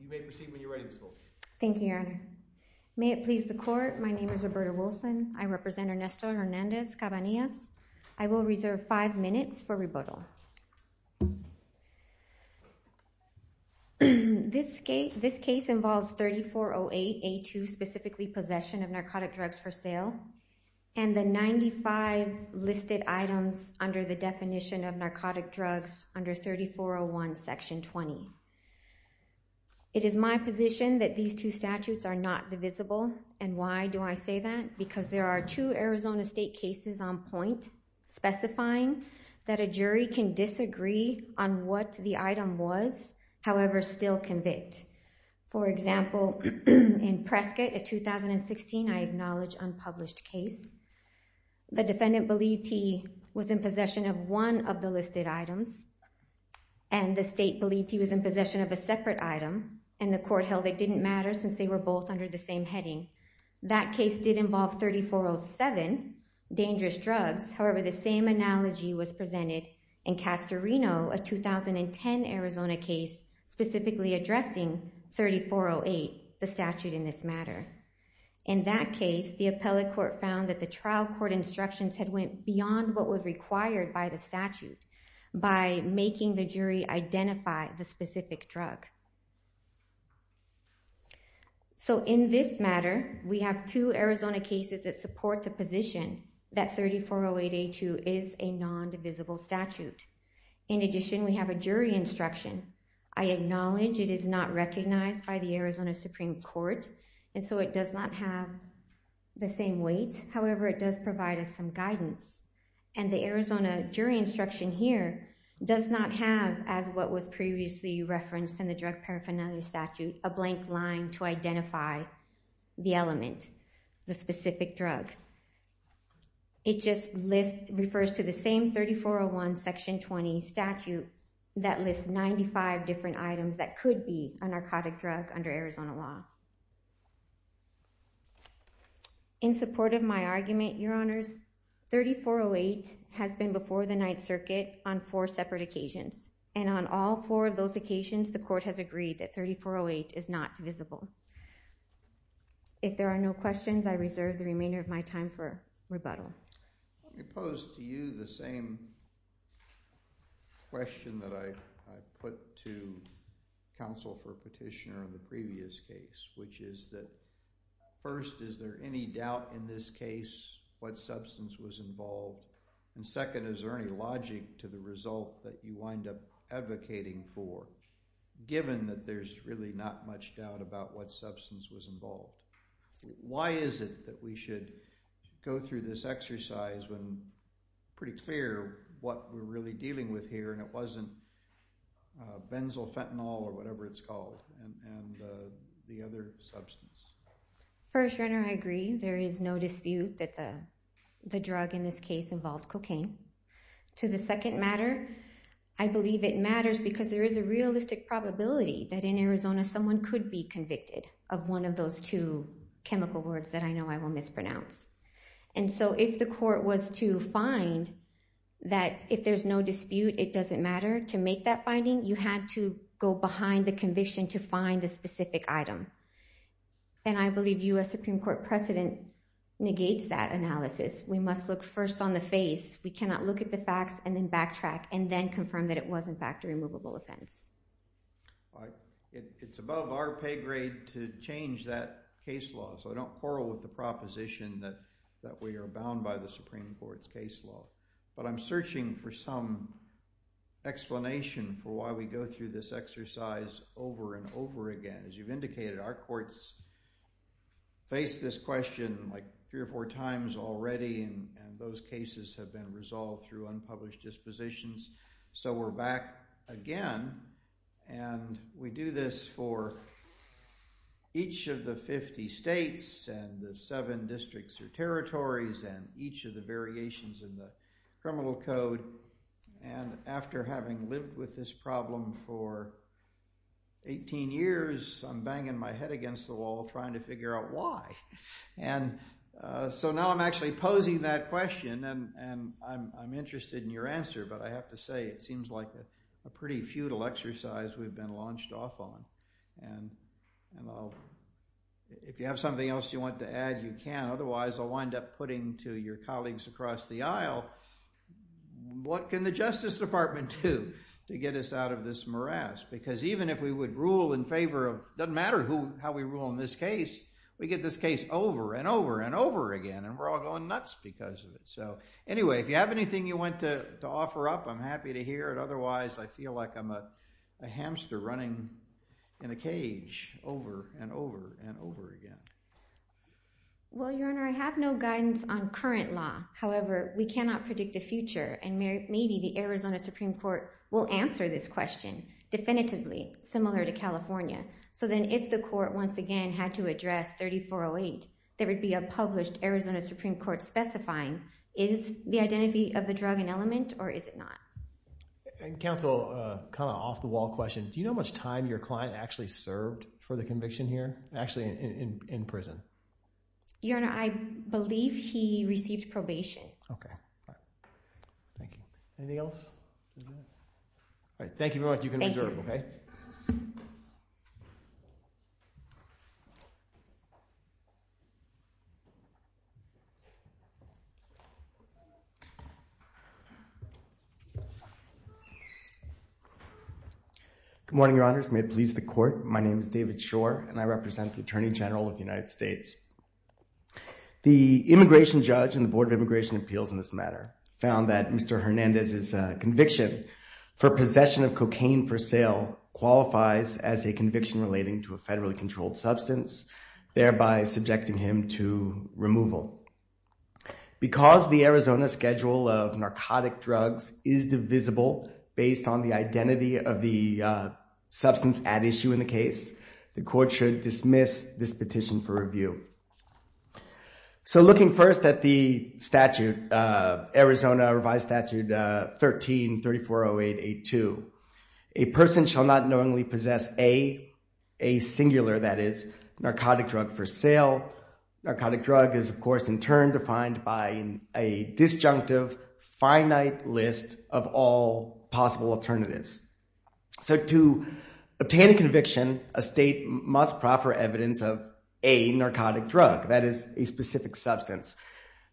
You may proceed when you're ready, Ms. Wilson. Thank you, Your Honor. May it please the court, my name is Roberta Wilson. I represent Ernesto Hernandez Cabanillas. I will reserve five minutes for rebuttal. This case involves 3408A2, specifically possession of narcotic drugs for sale, and the 95 listed items under the definition of narcotic drugs under 3401 section 20. It is my position that these two statutes are not divisible. And why do I say that? Because there are two Arizona State cases on point specifying that a jury can disagree on what the item was, however, still convict. For example, in Prescott in 2016, I acknowledge unpublished case. The defendant believed he was in possession of one of the listed items, and the state believed he was in possession of a separate item. And the court held it didn't matter, since they were both under the same heading. That case did involve 3407, dangerous drugs. However, the same analogy was presented in Castorino, a 2010 Arizona case specifically addressing 3408, the statute in this matter. In that case, the appellate court found that the trial court instructions had went beyond what was required by the statute by making the jury identify the specific drug. So in this matter, we have two Arizona cases that support the position that 3408A2 is a non-divisible statute. In addition, we have a jury instruction. I acknowledge it is not recognized by the Arizona Supreme Court, and so it does not have the same weight. However, it does provide us some guidance. And the Arizona jury instruction here does not have, as what was previously referenced in the drug paraphernalia statute, a blank line to identify the element, the specific drug. It just refers to the same 3401, section 20 statute that lists 95 different items that could be a narcotic drug under Arizona law. In support of my argument, Your Honors, 3408 has been before the Ninth Circuit on four separate occasions. And on all four of those occasions, the court has agreed that 3408 is not divisible. If there are no questions, I reserve the remainder of my time for rebuttal. Let me pose to you the same question that I put to counsel for petitioner in the previous case. Which is that, first, is there any doubt in this case what substance was involved? And second, is there any logic to the result that you wind up advocating for, given that there's really not much doubt about what substance was involved? Why is it that we should go through this exercise when it's pretty clear what we're really dealing with here, and it wasn't benzofentanyl, or whatever it's called, and the other substance? First, Renter, I agree. There is no dispute that the drug in this case involved cocaine. To the second matter, I believe it matters because there is a realistic probability that in Arizona someone could be convicted of one of those two chemical words that I know I will mispronounce. And so if the court was to find that if there's no dispute, it doesn't matter, to make that finding, you had to go behind the conviction to find the specific item. And I believe U.S. Supreme Court precedent negates that analysis. We must look first on the face. We cannot look at the facts, and then backtrack, and then confirm that it was, in fact, a removable offense. It's above our pay grade to change that case law. So I don't quarrel with the proposition that we are bound by the Supreme Court's case law. But I'm searching for some explanation for why we go through this exercise over and over again. As you've indicated, our courts face this question like three or four times already. And those cases have been resolved through unpublished dispositions. So we're back again. And we do this for each of the 50 states, and the seven districts or territories, and each of the variations in the criminal code. And after having lived with this problem for 18 years, I'm banging my head against the wall trying to figure out why. And so now I'm actually posing that question. And I'm interested in your answer. But I have to say, it seems like a pretty futile exercise we've been launched off on. And if you have something else you want to add, you can. Otherwise, I'll wind up putting to your colleagues across the aisle, what can the Justice Department do to get us out of this morass? Because even if we would rule in favor of, doesn't matter how we rule in this case, we get this case over, and over, and over again. And we're all going nuts because of it. So anyway, if you have anything you want to offer up, I'm happy to hear it. Otherwise, I feel like I'm a hamster running in a cage over, and over, and over again. Well, Your Honor, I have no guidance on current law. However, we cannot predict the future. And maybe the Arizona Supreme Court will answer this question definitively, similar to California. So then if the court once again had to address 3408, there would be a published Arizona Supreme Court specifying, is the identity of the drug an element, or is it not? And counsel, kind of off the wall question, do you know how much time your client actually served for the conviction here? Actually, in prison. Your Honor, I believe he received probation. OK. Thank you. Anything else? Thank you very much. You can reserve, OK? Good morning, Your Honors. May it please the court, my name is David Shore. And I represent the Attorney General of the United States. The immigration judge and the Board of Immigration Appeals in this matter found that Mr. Hernandez's conviction for possession of cocaine for sale qualifies as a conviction relating to a federally controlled substance, thereby subjecting him to removal. Because the Arizona schedule of narcotic drugs is divisible based on the identity of the substance at issue in the case, the court should dismiss this petition for review. So looking first at the statute, Arizona Revised Statute 13340882, a person shall not knowingly possess a, a singular that is, narcotic drug for sale. Narcotic drug is, of course, in turn defined by a disjunctive, finite list of all possible alternatives. So to obtain a conviction, a state must proffer evidence of a narcotic drug, that is, a specific substance.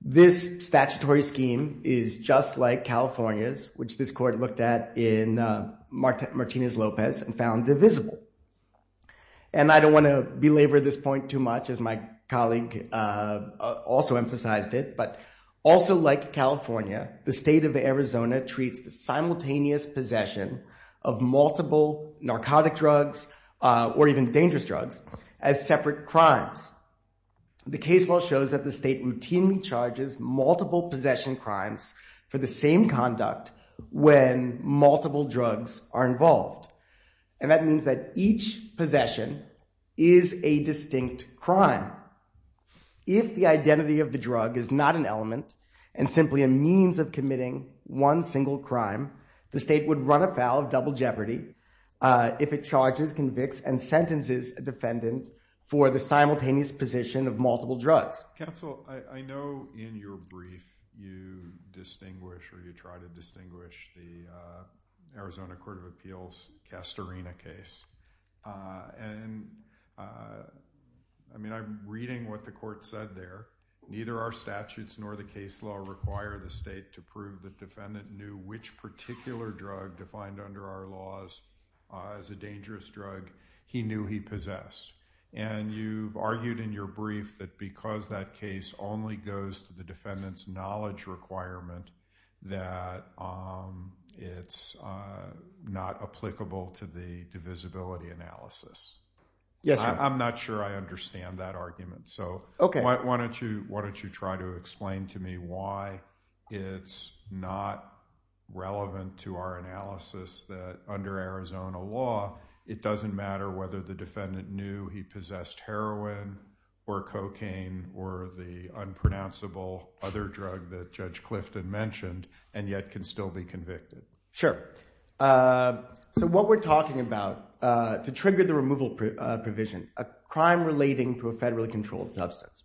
This statutory scheme is just like California's, which this court looked at in Martinez-Lopez and found divisible. And I don't want to belabor this point too much, as my colleague also emphasized it. But also like California, the state of Arizona treats the simultaneous possession of multiple narcotic drugs, or even dangerous drugs, as separate crimes. The case law shows that the state routinely charges multiple possession crimes for the same conduct when multiple drugs are involved. And that means that each possession If the identity of the drug is not an element, and simply a means of committing one single crime, the state would run afoul of double jeopardy if it charges, convicts, and sentences a defendant for the simultaneous possession of multiple drugs. Counsel, I know in your brief you distinguish, or you try to distinguish, the Arizona Court of Appeals Castorina case. And I mean, I'm reading what the court said there. Neither our statutes nor the case law require the state to prove the defendant knew which particular drug defined under our laws as a dangerous drug he knew he possessed. And you've argued in your brief that because that case only goes to the defendant's knowledge requirement, that it's not applicable to the divisibility analysis. Yes, sir. I'm not sure I understand that argument. So why don't you try to explain to me why it's not relevant to our analysis that under Arizona law, it doesn't matter whether the defendant knew he possessed heroin, or cocaine, or the unpronounceable other drug that Judge Clifton mentioned, and yet can still be convicted. Sure. So what we're talking about, to trigger the removal provision, a crime relating to a federally controlled substance.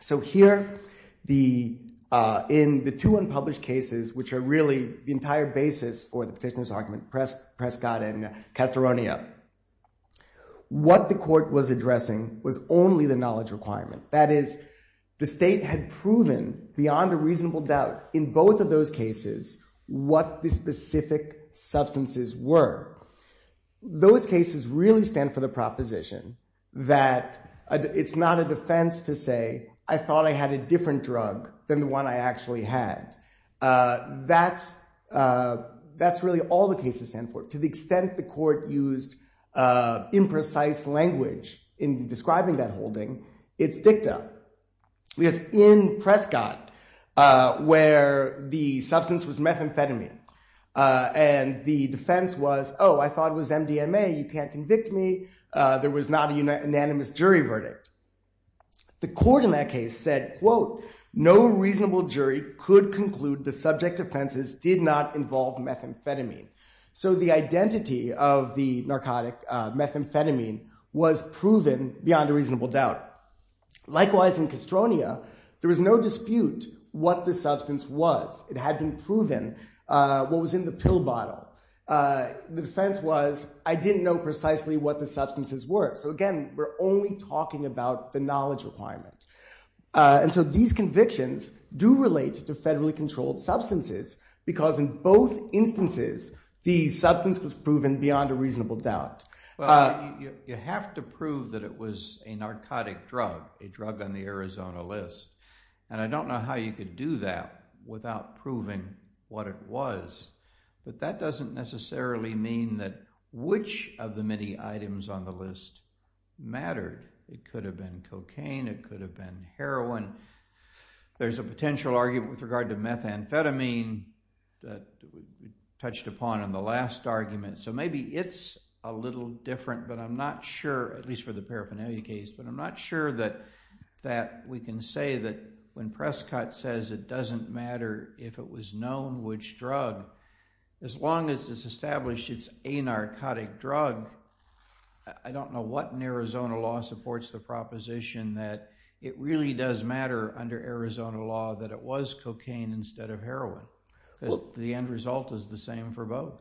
So here, in the two unpublished cases, which are really the entire basis for the petitioner's argument, Prescott and Castorina, what the court was addressing was only the knowledge requirement. That is, the state had proven beyond a reasonable doubt in both of those cases what the specific substances were. Those cases really stand for the proposition that it's not a defense to say, I thought I had a different drug than the one I actually had. That's really all the cases stand for. To the extent the court used imprecise language in describing that holding, it's dicta. Because in Prescott, where the substance was methamphetamine, and the defense was, oh, I thought it was MDMA. You can't convict me. There was not an unanimous jury verdict. The court in that case said, quote, no reasonable jury could conclude the subject offenses did not involve methamphetamine. So the identity of the narcotic methamphetamine was proven beyond a reasonable doubt. Likewise, in Castorina, there was no dispute what the substance was. It had been proven what was in the pill bottle. The defense was, I didn't know precisely what the substances were. So again, we're only talking about the knowledge requirement. And so these convictions do relate to federally controlled substances, because in both instances, the substance was proven beyond a reasonable doubt. You have to prove that it was a narcotic drug, a drug on the Arizona list. And I don't know how you could do that without proving what it was. But that doesn't necessarily mean that which of the many items on the list mattered. It could have been cocaine. It could have been heroin. There's a potential argument with regard to methamphetamine that we touched upon in the last argument. So maybe it's a little different, but I'm not sure, at least for the paraphernalia case, but I'm not sure that we can say that when Prescott says it doesn't matter if it was known which drug, as long as it's established it's a narcotic drug, I don't know what in Arizona law supports the proposition that it really does matter under Arizona law that it was cocaine instead of heroin, because the end result is the same for both.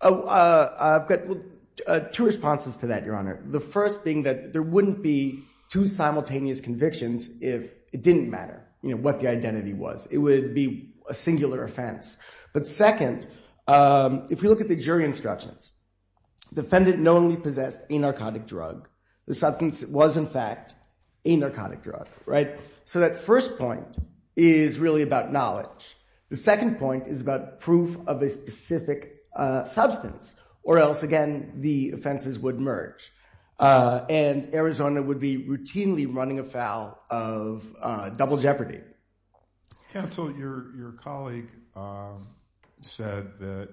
Oh, I've got two responses to that, Your Honor. The first being that there wouldn't be two simultaneous convictions if it didn't matter what the identity was. It would be a singular offense. But second, if we look at the jury instructions, the defendant knowingly possessed a narcotic drug. The substance was, in fact, a narcotic drug. So that first point is really about knowledge. The second point is about proof of a specific substance, or else, again, the offenses would merge. And Arizona would be routinely running a foul of double jeopardy. Counsel, your colleague said that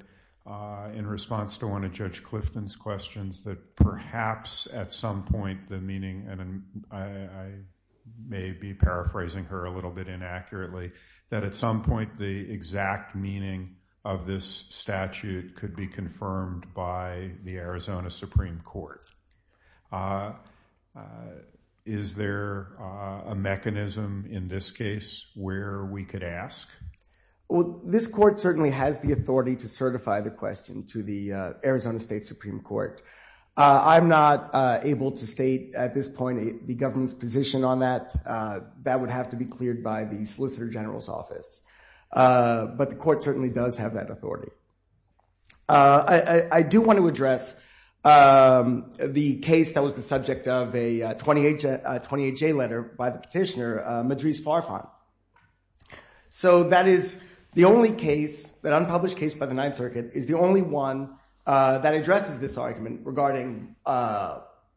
in response to one of Judge Clifton's questions that perhaps at some point the meaning, and I may be paraphrasing her a little bit inaccurately, that at some point the exact meaning of this statute could be confirmed by the Arizona Supreme Court. Is there a mechanism in this case where we could ask? Well, this court certainly has the authority to certify the question to the Arizona State Supreme Court. I'm not able to state at this point the government's position on that. But the court certainly does have that authority. I do want to address the case that was the subject of a 20HA letter by the petitioner, Madriz Farfan. So that is the only case, an unpublished case by the Ninth Circuit, is the only one that addresses this argument regarding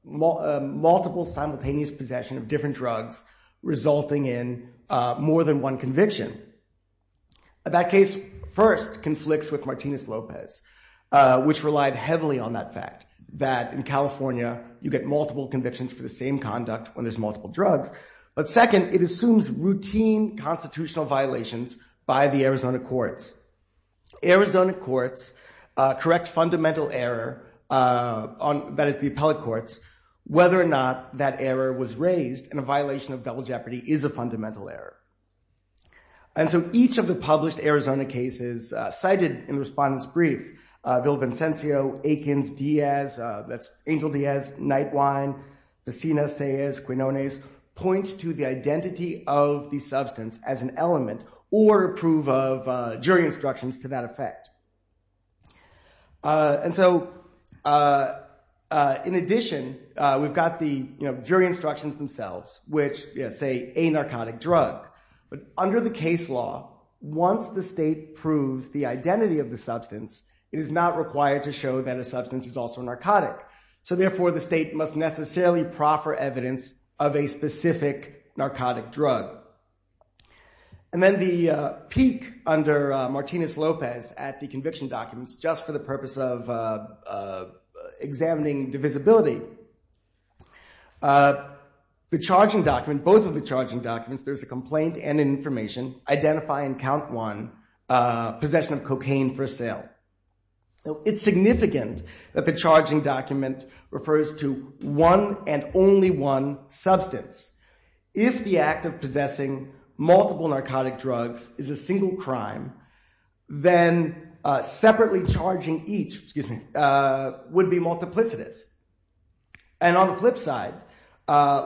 multiple simultaneous possession of different drugs resulting in more than one conviction. That case, first, conflicts with Martinez-Lopez, which relied heavily on that fact, that in California you get multiple convictions for the same conduct when there's multiple drugs. But second, it assumes routine constitutional violations by the Arizona courts. Arizona courts correct fundamental error, that is the appellate courts, whether or not that error was raised and a violation of double jeopardy is a fundamental error. And so each of the published Arizona cases cited in the respondent's brief, Villevincencio, Aikens, Diaz, that's Angel Diaz, Nightwine, Pacinas, Ceyas, Quinones, point to the identity of the substance as an element or prove of jury instructions to that effect. And so in addition, we've got the jury instructions themselves, which say a narcotic drug. But under the case law, once the state proves the identity of the substance, it is not required to show that a substance is also narcotic. So therefore, the state must necessarily proffer evidence of a specific narcotic drug. And then the peak under Martinez-Lopez at the conviction documents, just for the purpose of examining divisibility, the charging document, both of the charging documents, there's a complaint and an information. Identify and count one possession of cocaine for sale. It's significant that the charging document refers to one and only one substance. If the act of possessing multiple narcotic drugs is a single crime, then separately charging each would be multiplicitous. And on the flip side,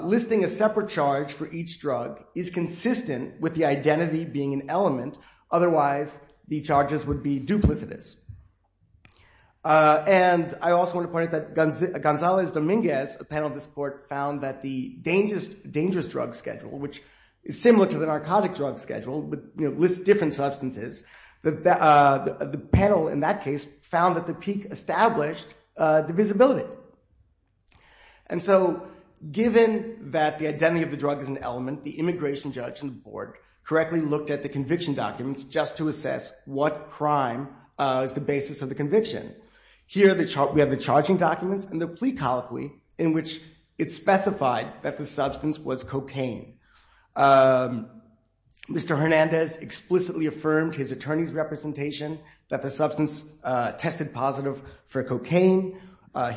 listing a separate charge for each drug is consistent with the identity being an element. Otherwise, the charges would be duplicitous. And I also want to point out that Gonzalez-Dominguez, a panel of this court, found that the dangerous drug schedule, which is similar to the narcotic drug schedule, lists different substances, the panel in that case found that the peak established divisibility. And so given that the identity of the drug is an element, the immigration judge and the board correctly looked at the conviction documents just to assess what crime is the basis of the conviction. Here, we have the charging documents and the plea colloquy in which it specified that the substance was cocaine. Mr. Hernandez explicitly affirmed his attorney's representation that the substance tested positive for cocaine.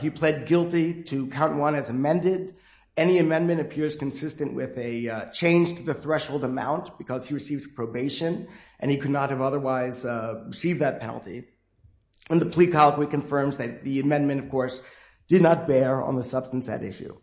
He pled guilty to count one as amended. Any amendment appears consistent with a change to the threshold amount because he received probation and he could not have otherwise received that penalty. And the plea colloquy confirms that the amendment, of course, did not bear on the substance at issue.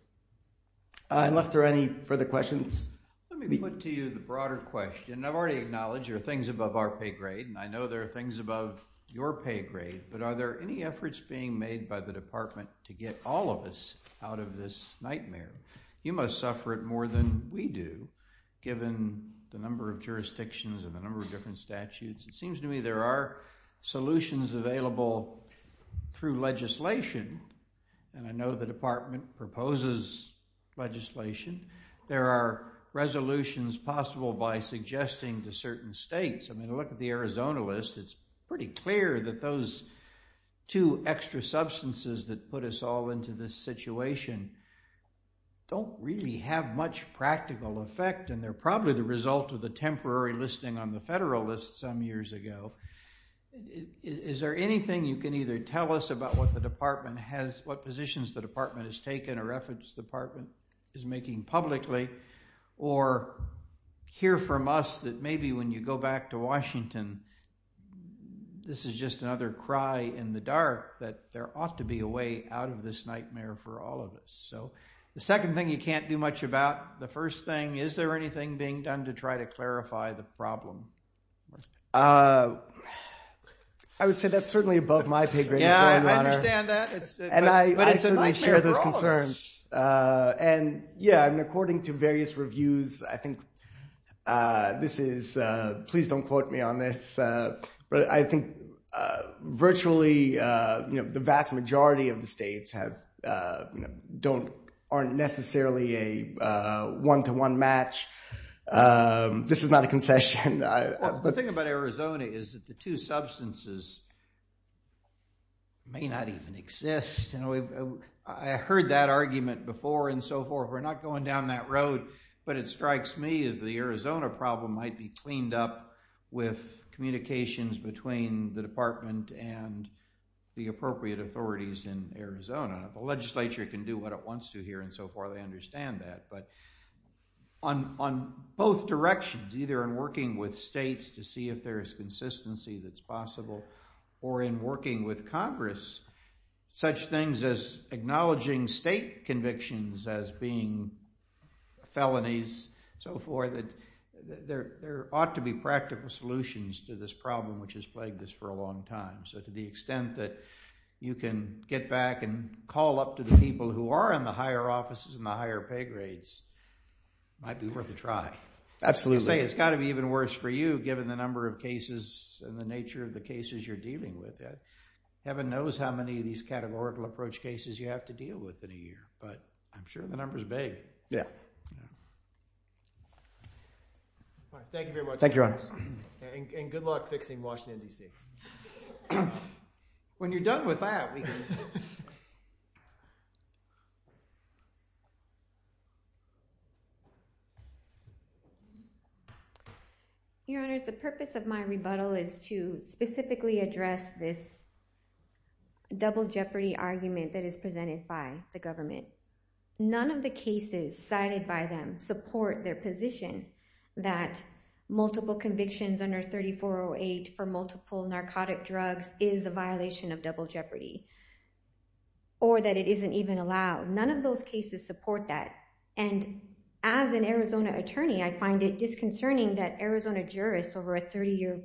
Unless there are any further questions, let me put to you the broader question. I've already acknowledged there are things above our pay grade and I know there are things above your pay grade, but are there any efforts being made by the department to get all of us out of this nightmare? You must suffer it more than we do, given the number of jurisdictions and the number of different statutes. It seems to me there are solutions available through legislation. And I know the department proposes legislation. There are resolutions possible by suggesting to certain states. I mean, look at the Arizona list. It's pretty clear that those two extra substances that put us all into this situation don't really have much practical effect. And they're probably the result of the temporary listing on the federal list some years ago. Is there anything you can either tell us about what the department has, what positions the department has taken, or efforts the department is making publicly, or hear from us that maybe when you go back to Washington, this is just another cry in the dark that there ought to be a way out of this nightmare for all of us? So the second thing you can't do much about, the first thing, is there anything being done to try to clarify the problem? I would say that's certainly above my pay grade. Yeah, I understand that. And I certainly share those concerns. And yeah, according to various reviews, I think this is, please don't quote me on this, but I think virtually the vast majority of the states aren't necessarily a one-to-one match. This is not a concession. The thing about Arizona is that the two substances may not even exist. I heard that argument before and so forth. We're not going down that road. But it strikes me as the Arizona problem might be cleaned up with communications between the department and the appropriate authorities in Arizona. The legislature can do what it wants to here and so forth. I understand that. But on both directions, either in working with states to see if there is consistency that's possible, or in working with Congress, such things as acknowledging state convictions as being felonies, so forth, that there ought to be practical solutions to this problem, which has plagued us for a long time. So to the extent that you can get back and call up to the people who are in the higher offices and the higher pay grades, might be worth a try. Absolutely. It's got to be even worse for you, given the number of cases and the nature of the cases you're dealing with. Heaven knows how many of these categorical approach cases you have to deal with in a year. But I'm sure the number is big. Yeah. Thank you very much. Thank you, Your Honors. And good luck fixing Washington, DC. When you're done with that, we can move on. Thank you. Your Honors, the purpose of my rebuttal is to specifically address this double jeopardy argument that is presented by the government. None of the cases cited by them support their position that multiple convictions under 3408 for multiple narcotic drugs is a violation of double jeopardy. Or that it isn't even allowed. None of those cases support that. And as an Arizona attorney, I find it disconcerting that Arizona jurists over a 30-year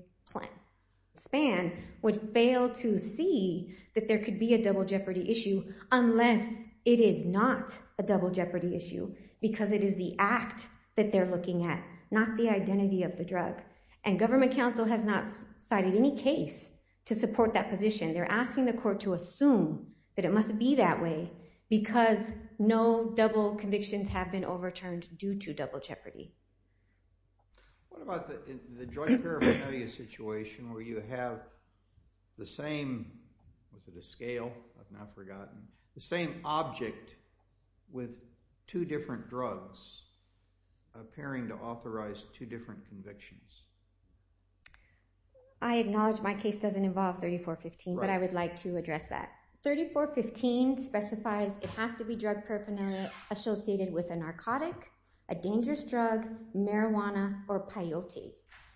span would fail to see that there could be a double jeopardy issue, unless it is not a double jeopardy issue. Because it is the act that they're looking at, not the identity of the drug. And government counsel has not cited any case to support that position. They're asking the court to assume that it must be that way, because no double convictions have been overturned due to double jeopardy. What about the joint paraphernalia situation, where you have the same, was it a scale? I've now forgotten. The same object with two different drugs appearing to authorize two different convictions. I acknowledge my case doesn't involve 3415, but I would like to address that. 3415 specifies it has to be drug paraphernalia associated with a narcotic, a dangerous drug, marijuana, or peyote.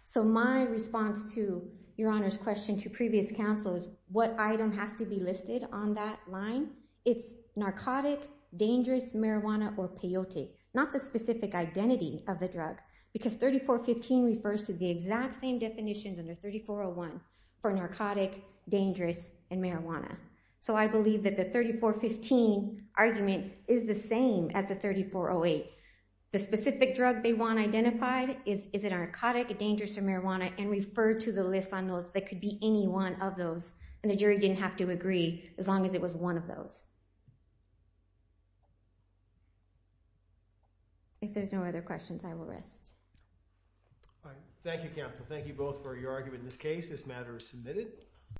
So my response to Your Honor's question to previous counsel is, what item has to be listed on that line? It's narcotic, dangerous, marijuana, or peyote. Not the specific identity of the drug. Because 3415 refers to the exact same definitions under 3401 for narcotic, dangerous, and marijuana. So I believe that the 3415 argument is the same as the 3408. The specific drug they want identified, is it narcotic, dangerous, or marijuana, and refer to the list on those that could be any one of those. And the jury didn't have to agree, as long as it was one of those. If there's no other questions, I will rest. Thank you, counsel. Thank you both for your argument in this case. This matter is submitted.